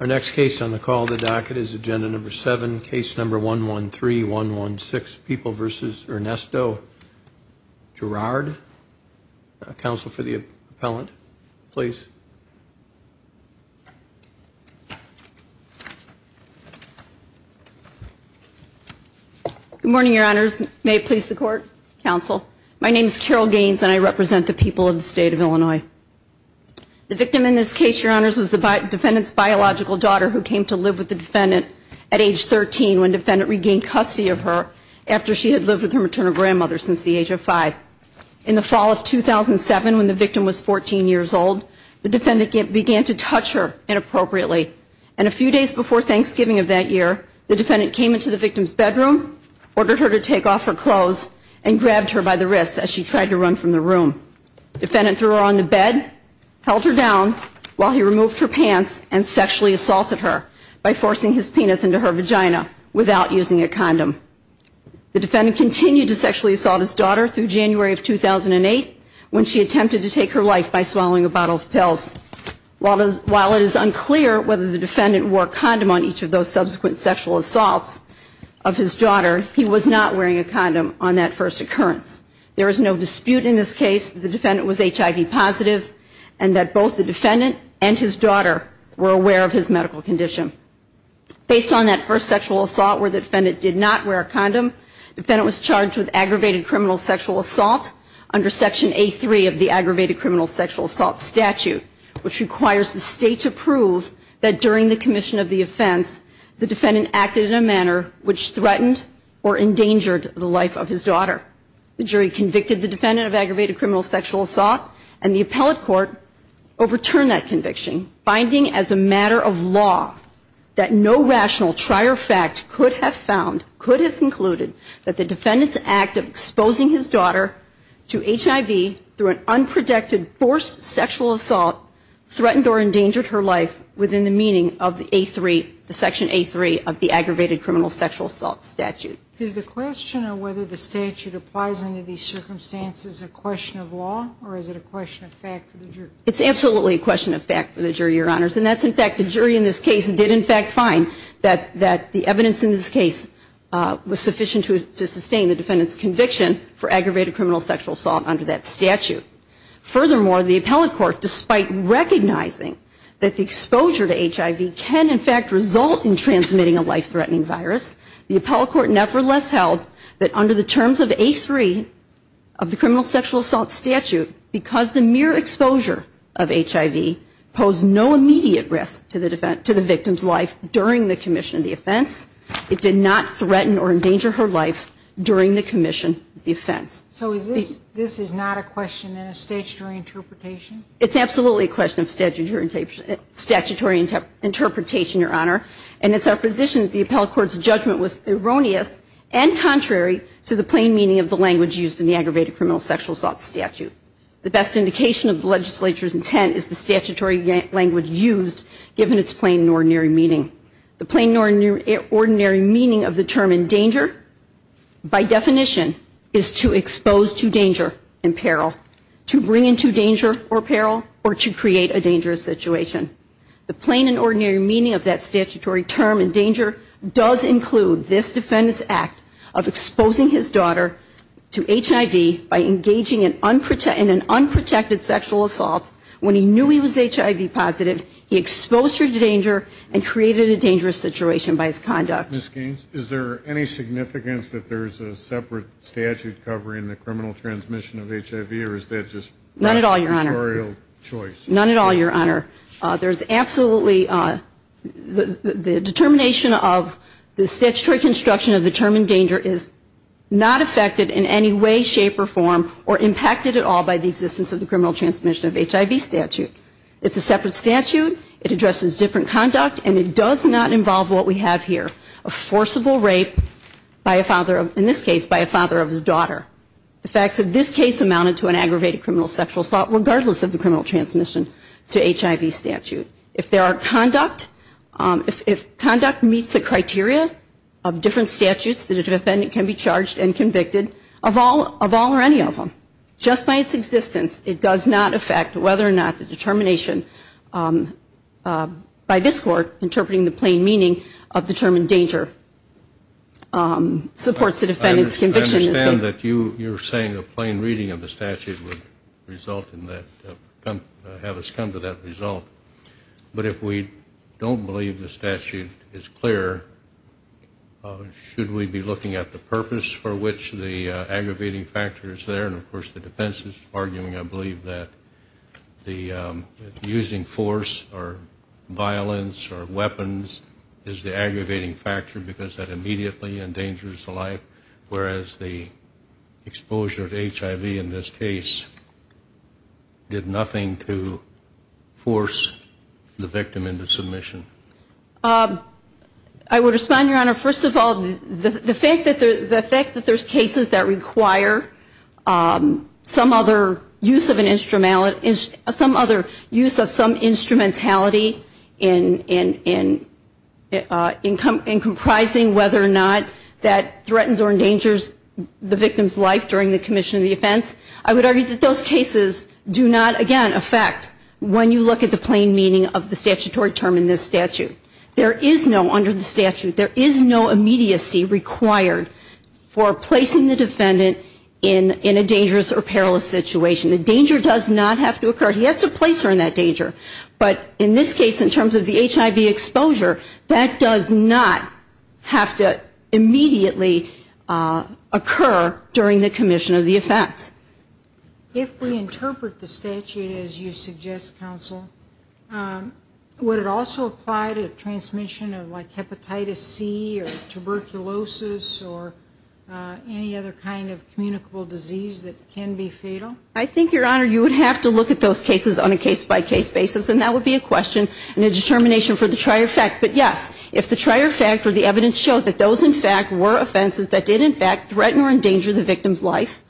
Our next case on the call the docket is agenda number seven case number one one three one one six people versus Ernesto Giraud counsel for the appellant, please Good morning, your honors may it please the court counsel. My name is Carol Gaines and I represent the people of the state of Illinois The victim in this case your honors was the Defendant's biological daughter who came to live with the defendant at age 13 when defendant regained custody of her After she had lived with her maternal grandmother since the age of five in the fall of 2007 when the victim was 14 years old The defendant began to touch her inappropriately and a few days before Thanksgiving of that year The defendant came into the victim's bedroom Ordered her to take off her clothes and grabbed her by the wrists as she tried to run from the room Defendant threw her on the bed Held her down while he removed her pants and sexually assaulted her by forcing his penis into her vagina without using a condom The defendant continued to sexually assault his daughter through January of 2008 when she attempted to take her life by swallowing a bottle of pills While does while it is unclear whether the defendant wore condom on each of those subsequent sexual assaults of his daughter He was not wearing a condom on that first occurrence There is no dispute in this case The defendant was HIV positive and that both the defendant and his daughter were aware of his medical condition Based on that first sexual assault where the defendant did not wear a condom Defendant was charged with aggravated criminal sexual assault under section a3 of the aggravated criminal sexual assault statute Which requires the state to prove that during the commission of the offense the defendant acted in a manner which threatened or? Endangered the life of his daughter the jury convicted the defendant of aggravated criminal sexual assault and the appellate court Overturned that conviction finding as a matter of law That no rational trier fact could have found could have concluded that the defendants act of exposing his daughter to HIV through an unprotected forced sexual assault Threatened or endangered her life within the meaning of a3 the section a3 of the aggravated criminal sexual assault statute Is the question of whether the statute applies under these circumstances a question of law or is it a question of fact? It's absolutely a question of fact for the jury your honors And that's in fact the jury in this case did in fact find that that the evidence in this case Was sufficient to sustain the defendants conviction for aggravated criminal sexual assault under that statute furthermore the appellate court despite Recognizing that the exposure to HIV can in fact result in transmitting a life-threatening virus the appellate court nevertheless held that under the terms of a3 of the criminal sexual assault statute because the mere exposure of HIV posed no immediate risk to the defense to the victim's life during the commission of the offense It did not threaten or endanger her life during the commission the offense So is this this is not a question in a statutory interpretation. It's absolutely a question of statute or in tape Statutory interpretation your honor and it's our position the appellate court's judgment was erroneous and Contrary to the plain meaning of the language used in the aggravated criminal sexual assault statute the best indication of the legislature's intent is the statutory Language used given its plain ordinary meaning the plain ordinary ordinary meaning of the term in danger By definition is to expose to danger and peril to bring into danger or peril or to create a dangerous situation The plain and ordinary meaning of that statutory term in danger does include this defendants act of exposing his daughter To HIV by engaging in unprotected an unprotected sexual assault when he knew he was HIV positive He exposed her to danger and created a dangerous situation by his conduct miss Gaines Is there any significance that there's a separate statute covering the criminal transmission of HIV or is that just not at all your honor? None at all your honor, there's absolutely the determination of the statutory construction of the term in danger is Not affected in any way shape or form or impacted at all by the existence of the criminal transmission of HIV statute It's a separate statute. It addresses different conduct and it does not involve what we have here a Forcible rape by a father in this case by a father of his daughter The facts of this case amounted to an aggravated criminal sexual assault regardless of the criminal transmission to HIV statute if there are conduct If conduct meets the criteria of different statutes that a defendant can be charged and convicted of all of all or any of them Just by its existence. It does not affect whether or not the determination By this court interpreting the plain meaning of the term in danger Um supports the defendants conviction that you you're saying a plain reading of the statute would result in that Have us come to that result But if we don't believe the statute is clear Should we be looking at the purpose for which the aggravating factor is there and of course the defense is arguing. I believe that the using force or Instruments or weapons is the aggravating factor because that immediately endangers the life whereas the exposure to HIV in this case Did nothing to force the victim into submission I Would respond your honor. First of all, the the fact that the effects that there's cases that require Some other use of an instrument is some other use of some instrumentality in in in Income in comprising whether or not that threatens or endangers the victim's life during the commission of the offense I would argue that those cases do not again affect When you look at the plain meaning of the statutory term in this statute, there is no under the statute There is no immediacy required For placing the defendant in in a dangerous or perilous situation. The danger does not have to occur He has to place her in that danger. But in this case in terms of the HIV exposure that does not Have to immediately Occur during the commission of the offense If we interpret the statute as you suggest counsel Would it also apply to transmission of like hepatitis C or tuberculosis or Any other kind of communicable disease that can be fatal? I think your honor you would have to look at those cases on a case-by-case Basis and that would be a question and a determination for the trier fact But yes If the trier fact or the evidence showed that those in fact were offenses that did in fact threaten or endanger the victim's life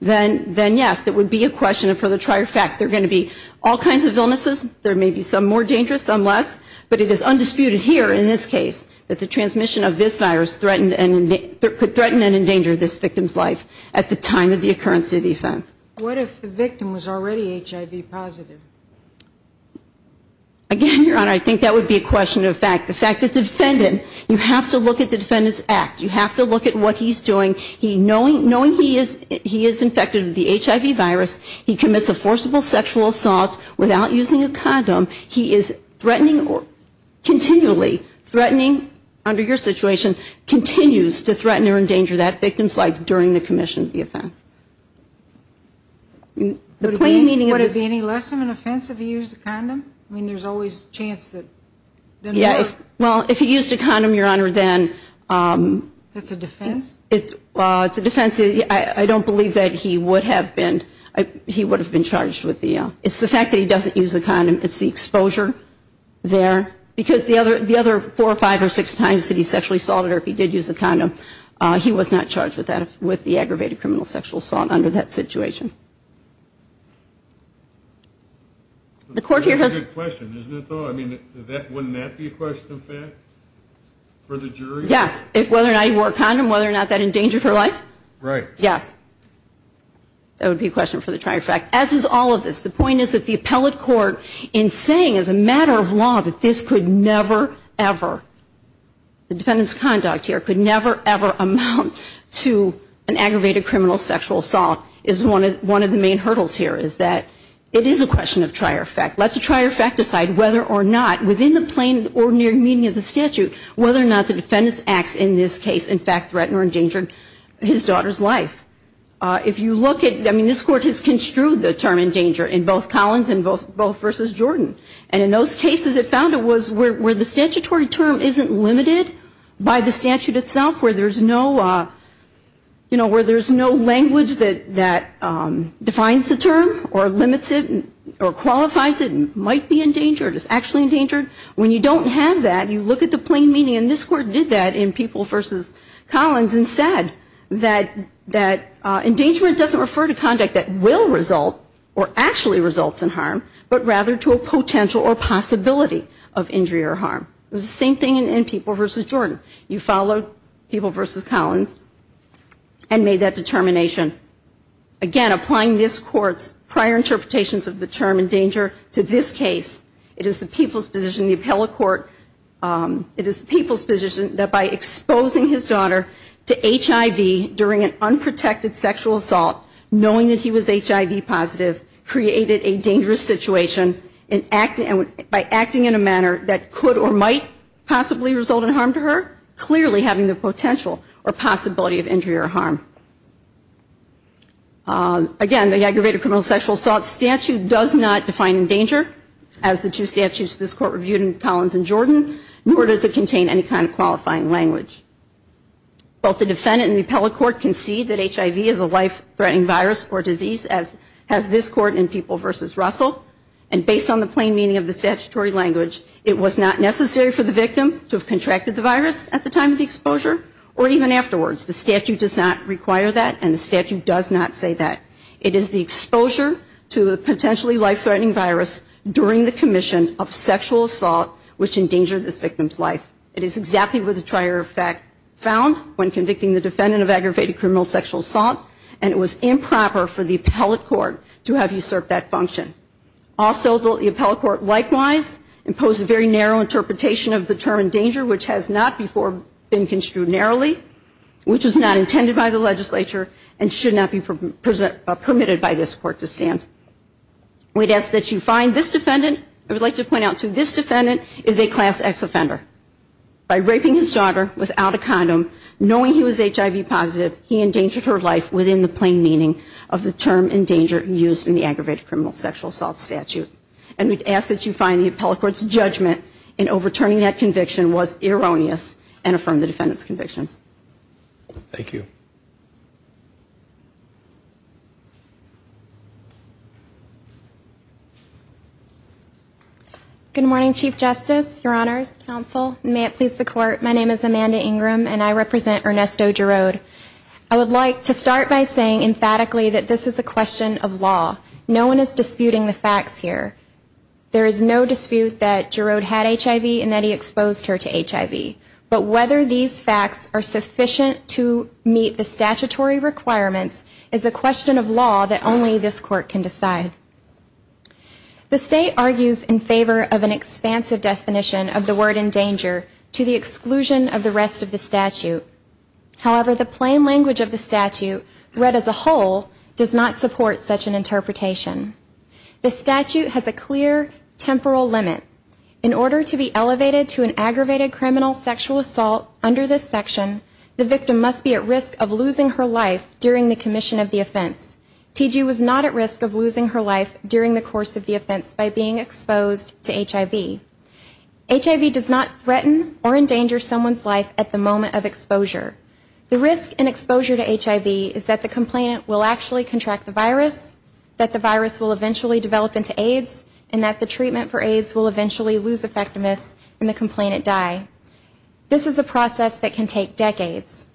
Then then yes, that would be a question for the trier fact, they're going to be all kinds of illnesses There may be some more dangerous some less But it is undisputed here in this case that the transmission of this virus threatened and Threatened and endangered this victim's life at the time of the occurrence of the offense. What if the victim was already HIV positive? Again your honor I think that would be a question of fact the fact that the defendant you have to look at the defendants act you have to Look at what he's doing. He knowing knowing he is he is infected with the HIV virus He commits a forcible sexual assault without using a condom. He is threatening or Continually threatening under your situation continues to threaten or endanger that victim's life during the commission of the offense The plain meaning what is the any lesson in offense if he used a condom, I mean there's always chance that Yeah, well if he used a condom your honor then It's a defense it it's a defense I don't believe that he would have been I he would have been charged with the it's the fact that he doesn't use a condom It's the exposure There because the other the other four or five or six times that he sexually assaulted or if he did use a condom He was not charged with that with the aggravated criminal sexual assault under that situation The court here has If whether or not he wore a condom whether or not that endangered her life, right, yes That would be a question for the trier-fact as is all of this The point is that the appellate court in saying as a matter of law that this could never ever The defendants conduct here could never ever amount to an aggravated criminal sexual assault is one It's one of the main hurdles here Is that it is a question of trier-fact let the trier-fact decide whether or not within the plain ordinary meaning of the statute Whether or not the defendants acts in this case in fact threatened or endangered his daughter's life If you look at I mean this court has construed the term in danger in both Collins and both both versus Jordan and in those cases It found it was where the statutory term isn't limited by the statute itself where there's no you know where there's no language that that Defines the term or limits it or qualifies it might be endangered It's actually endangered when you don't have that you look at the plain meaning and this court did that in people versus Collins and said that That endangerment doesn't refer to conduct that will result or actually results in harm But rather to a potential or possibility of injury or harm It was the same thing in people versus Jordan you followed people versus Collins and made that determination Again applying this court's prior interpretations of the term in danger to this case. It is the people's position the appellate court It is people's position that by exposing his daughter to HIV during an unprotected sexual assault Knowing that he was HIV positive Created a dangerous situation in acting and by acting in a manner that could or might Possibly result in harm to her clearly having the potential or possibility of injury or harm Again the aggravated criminal sexual assault statute does not define in danger as the two statutes this court reviewed in Collins and Jordan Nor does it contain any kind of qualifying language? Both the defendant and the appellate court can see that HIV is a life-threatening virus or disease as has this court in people versus Russell And based on the plain meaning of the statutory language It was not necessary for the victim to have contracted the virus at the time of the exposure or even afterwards the statute does not Require that and the statute does not say that it is the exposure to a potentially life-threatening virus During the commission of sexual assault which endangered this victim's life It is exactly with a trier effect found when convicting the defendant of aggravated criminal sexual assault And it was improper for the appellate court to have usurp that function Also, the appellate court likewise imposed a very narrow interpretation of the term in danger Which has not before been construed narrowly, which was not intended by the legislature and should not be permitted by this court to stand We'd ask that you find this defendant. I would like to point out to this defendant is a class X offender By raping his daughter without a condom knowing he was HIV positive He endangered her life within the plain meaning of the term in danger used in the aggravated criminal sexual assault statute And we'd ask that you find the appellate court's judgment in overturning that conviction was erroneous and affirmed the defendant's convictions Thank you Good morning Chief Justice Your Honor's counsel may it please the court My name is Amanda Ingram, and I represent Ernesto Gerode I would like to start by saying emphatically that this is a question of law No one is disputing the facts here There is no dispute that Gerode had HIV and that he exposed her to HIV But whether these facts are sufficient to meet the statutory requirements is a question of law that only this court can decide The state argues in favor of an expansive definition of the word in danger to the exclusion of the rest of the statute However, the plain language of the statute read as a whole does not support such an interpretation The statute has a clear Temporal limit in order to be elevated to an aggravated criminal sexual assault under this section The victim must be at risk of losing her life during the commission of the offense TG was not at risk of losing her life during the course of the offense by being exposed to HIV HIV does not threaten or endanger someone's life at the moment of exposure The risk and exposure to HIV is that the complainant will actually contract the virus That the virus will eventually develop into AIDS and that the treatment for AIDS will eventually lose effectiveness and the complainant die This is a process that can take decades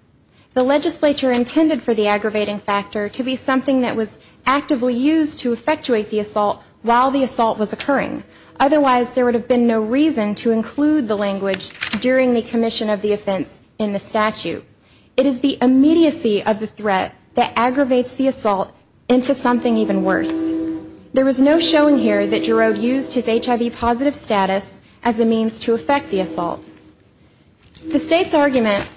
The legislature intended for the aggravating factor to be something that was actively used to effectuate the assault while the assault was occurring Otherwise, there would have been no reason to include the language during the commission of the offense in the statute It is the immediacy of the threat that aggravates the assault into something even worse There was no showing here that Gerard used his HIV positive status as a means to affect the assault The state's argument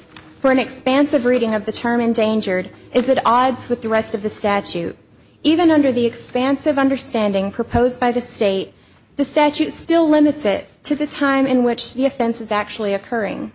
for an expansive reading of the term endangered is at odds with the rest of the statute Even under the expansive understanding proposed by the state the statute still limits it to the time in which the offense is actually occurring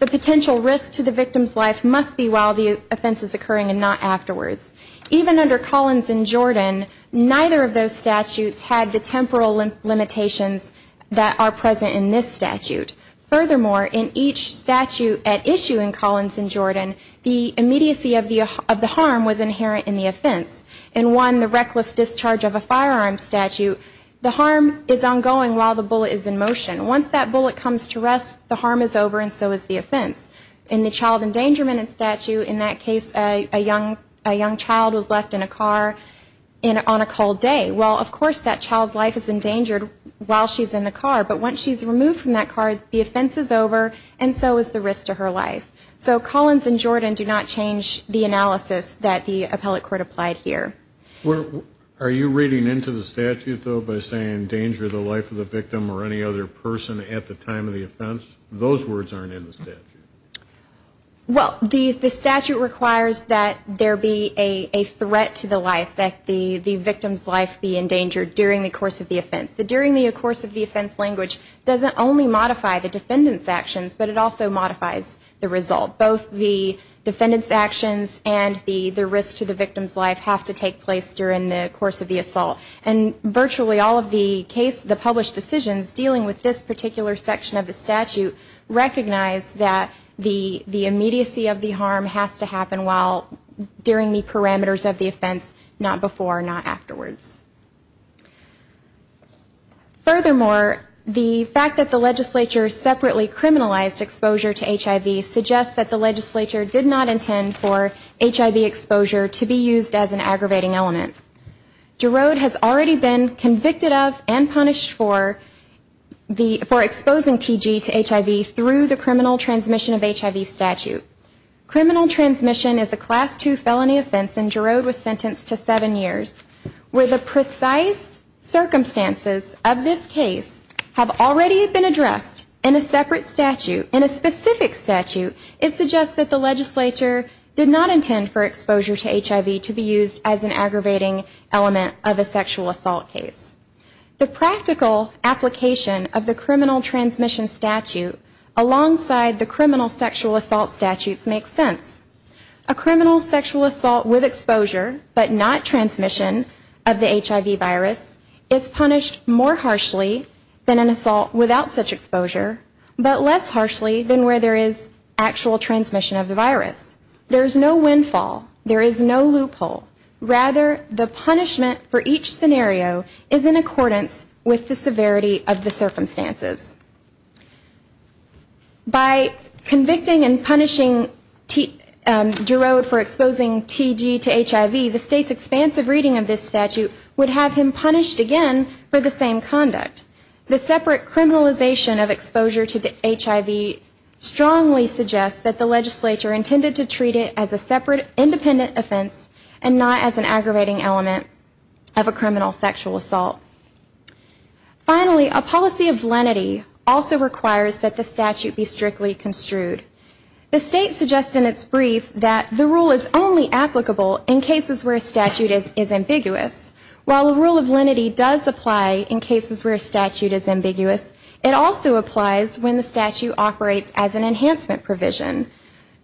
The potential risk to the victim's life must be while the offense is occurring and not afterwards even under Collins and Jordan Neither of those statutes had the temporal limitations that are present in this statute Furthermore in each statute at issue in Collins in Jordan The immediacy of the of the harm was inherent in the offense and won the reckless discharge of a firearm statute The harm is ongoing while the bullet is in motion Once that bullet comes to rest the harm is over and so is the offense in the child endangerment and statute in that case A young a young child was left in a car in on a cold day Well, of course that child's life is endangered while she's in the car But once she's removed from that car, the offense is over and so is the risk to her life So Collins and Jordan do not change the analysis that the appellate court applied here Well, are you reading into the statute though by saying danger the life of the victim or any other person at the time of the offense? Those words aren't in the statute well, the the statute requires that there be a Endangered during the course of the offense the during the of course of the offense language doesn't only modify the defendant's actions but it also modifies the result both the defendants actions and the the risk to the victim's life have to take place during the course of the assault and Virtually all of the case the published decisions dealing with this particular section of the statute Recognize that the the immediacy of the harm has to happen while During the parameters of the offense not before not afterwards furthermore The fact that the legislature separately criminalized exposure to HIV suggests that the legislature did not intend for HIV exposure to be used as an aggravating element Gerard has already been convicted of and punished for The for exposing TG to HIV through the criminal transmission of HIV statute Criminal transmission is a class 2 felony offense and Gerard was sentenced to seven years where the precise Circumstances of this case have already been addressed in a separate statute in a specific statute It suggests that the legislature did not intend for exposure to HIV to be used as an aggravating element of a sexual assault case the practical application of the criminal transmission statute Alongside the criminal sexual assault statutes makes sense a criminal sexual assault with exposure But not transmission of the HIV virus is punished more harshly than an assault without such exposure But less harshly than where there is actual transmission of the virus. There's no windfall. There is no loophole Rather the punishment for each scenario is in accordance with the severity of the circumstances By convicting and punishing Gerard for exposing TG to HIV the state's expansive reading of this statute would have him punished again for the same conduct the separate criminalization of exposure to the HIV Strongly suggests that the legislature intended to treat it as a separate independent offense and not as an aggravating element of a criminal sexual assault Finally a policy of lenity also requires that the statute be strictly construed The state suggests in its brief that the rule is only applicable in cases where a statute is is ambiguous While a rule of lenity does apply in cases where a statute is ambiguous It also applies when the statute operates as an enhancement provision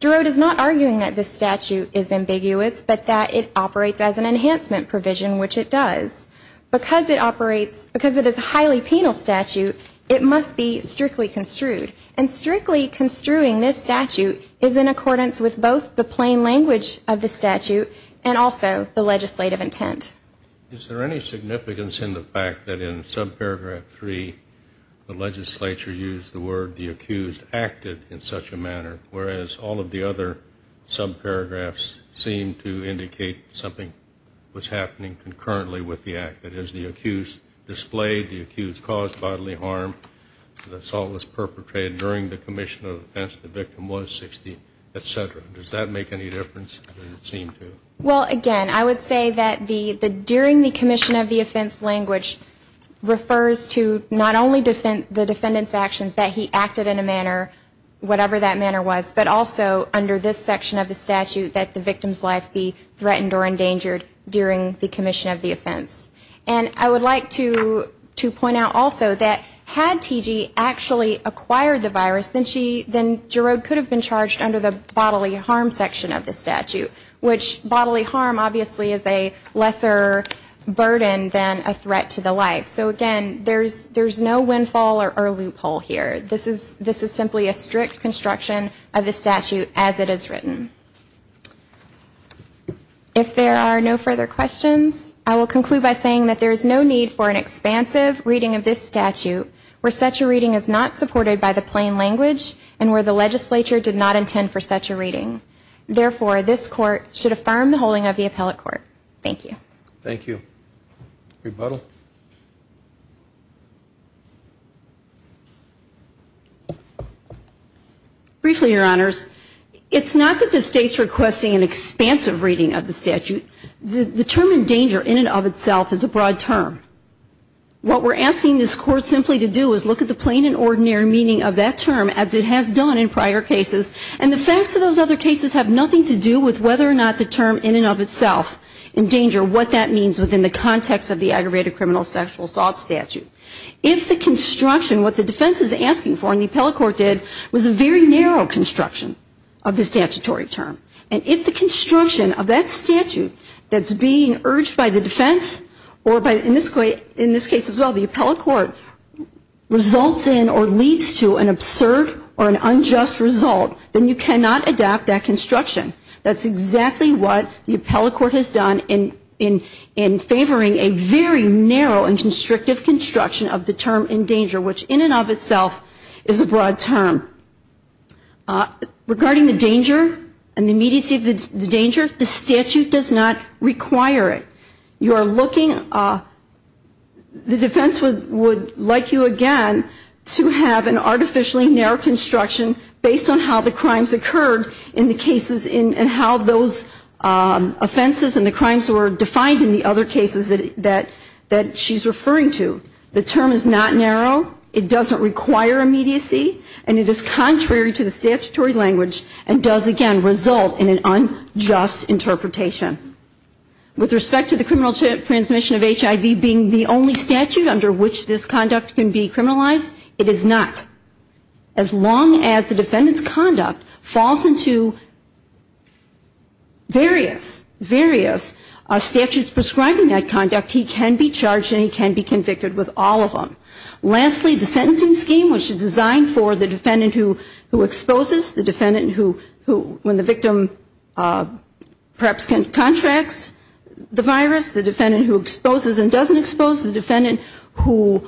Gerard is not arguing that this statute is ambiguous, but that it operates as an enhancement provision Which it does because it operates because it is a highly penal statute it must be strictly construed and Strictly construing this statute is in accordance with both the plain language of the statute and also the legislative intent Is there any significance in the fact that in subparagraph 3? The legislature used the word the accused acted in such a manner. Whereas all of the other Subparagraphs seem to indicate something was happening concurrently with the act It is the accused displayed the accused caused bodily harm The assault was perpetrated during the commission of as the victim was 16, etc. Does that make any difference? Well again, I would say that the the during the commission of the offense language Refers to not only defend the defendants actions that he acted in a manner Whatever that manner was but also under this section of the statute that the victim's life be threatened or endangered During the commission of the offense and I would like to to point out also that had TG Actually acquired the virus then she then Gerard could have been charged under the bodily harm section of the statute Which bodily harm obviously is a lesser Burden than a threat to the life. So again, there's there's no windfall or loophole here This is this is simply a strict construction of the statute as it is written If there are no further questions I will conclude by saying that there is no need for an expansive reading of this statute Where such a reading is not supported by the plain language and where the legislature did not intend for such a reading Therefore this court should affirm the holding of the appellate court. Thank you. Thank you rebuttal Briefly your honors. It's not that the state's requesting an expansive reading of the statute The term in danger in and of itself is a broad term What we're asking this court simply to do is look at the plain and ordinary meaning of that term as it has done in prior Cases and the facts of those other cases have nothing to do with whether or not the term in and of itself Endanger what that means within the context of the aggravated criminal sexual assault statute if the construction what the defense is asking for and the appellate court did was a very narrow construction of the statutory term and if the Construction of that statute that's being urged by the defense or by in this way in this case as well the appellate court Results in or leads to an absurd or an unjust result then you cannot adapt that construction That's exactly what the appellate court has done in in in Favoring a very narrow and constrictive construction of the term in danger which in and of itself Is a broad term Regarding the danger and the immediacy of the danger the statute does not require it you are looking The defense would would like you again To have an artificially narrow construction based on how the crimes occurred in the cases in and how those Offenses and the crimes were defined in the other cases that that that she's referring to the term is not narrow It doesn't require immediacy and it is contrary to the statutory language and does again result in an unjust interpretation With respect to the criminal transmission of HIV being the only statute under which this conduct can be criminalized. It is not as long as the defendants conduct falls into Various various Statutes prescribing that conduct he can be charged and he can be convicted with all of them Lastly the sentencing scheme which is designed for the defendant who who exposes the defendant who who when the victim perhaps can contracts the virus the defendant who exposes and doesn't expose the defendant who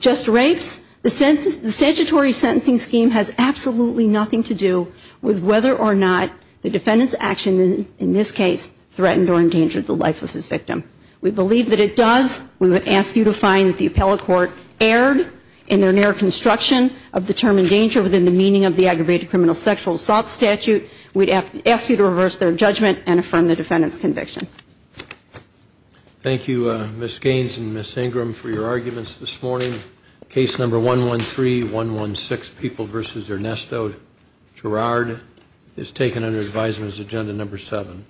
Just rapes the sentence the statutory sentencing scheme has absolutely nothing to do with whether or not The defendants action in this case threatened or endangered the life of his victim We believe that it does we would ask you to find that the appellate court erred in their narrow construction of Determined danger within the meaning of the aggravated criminal sexual assault statute. We'd have to ask you to reverse their judgment and affirm the defendants convictions Thank You miss Gaines and miss Ingram for your arguments this morning case number one one three one one six people versus Ernesto Gerard is taken under advisers agenda number seven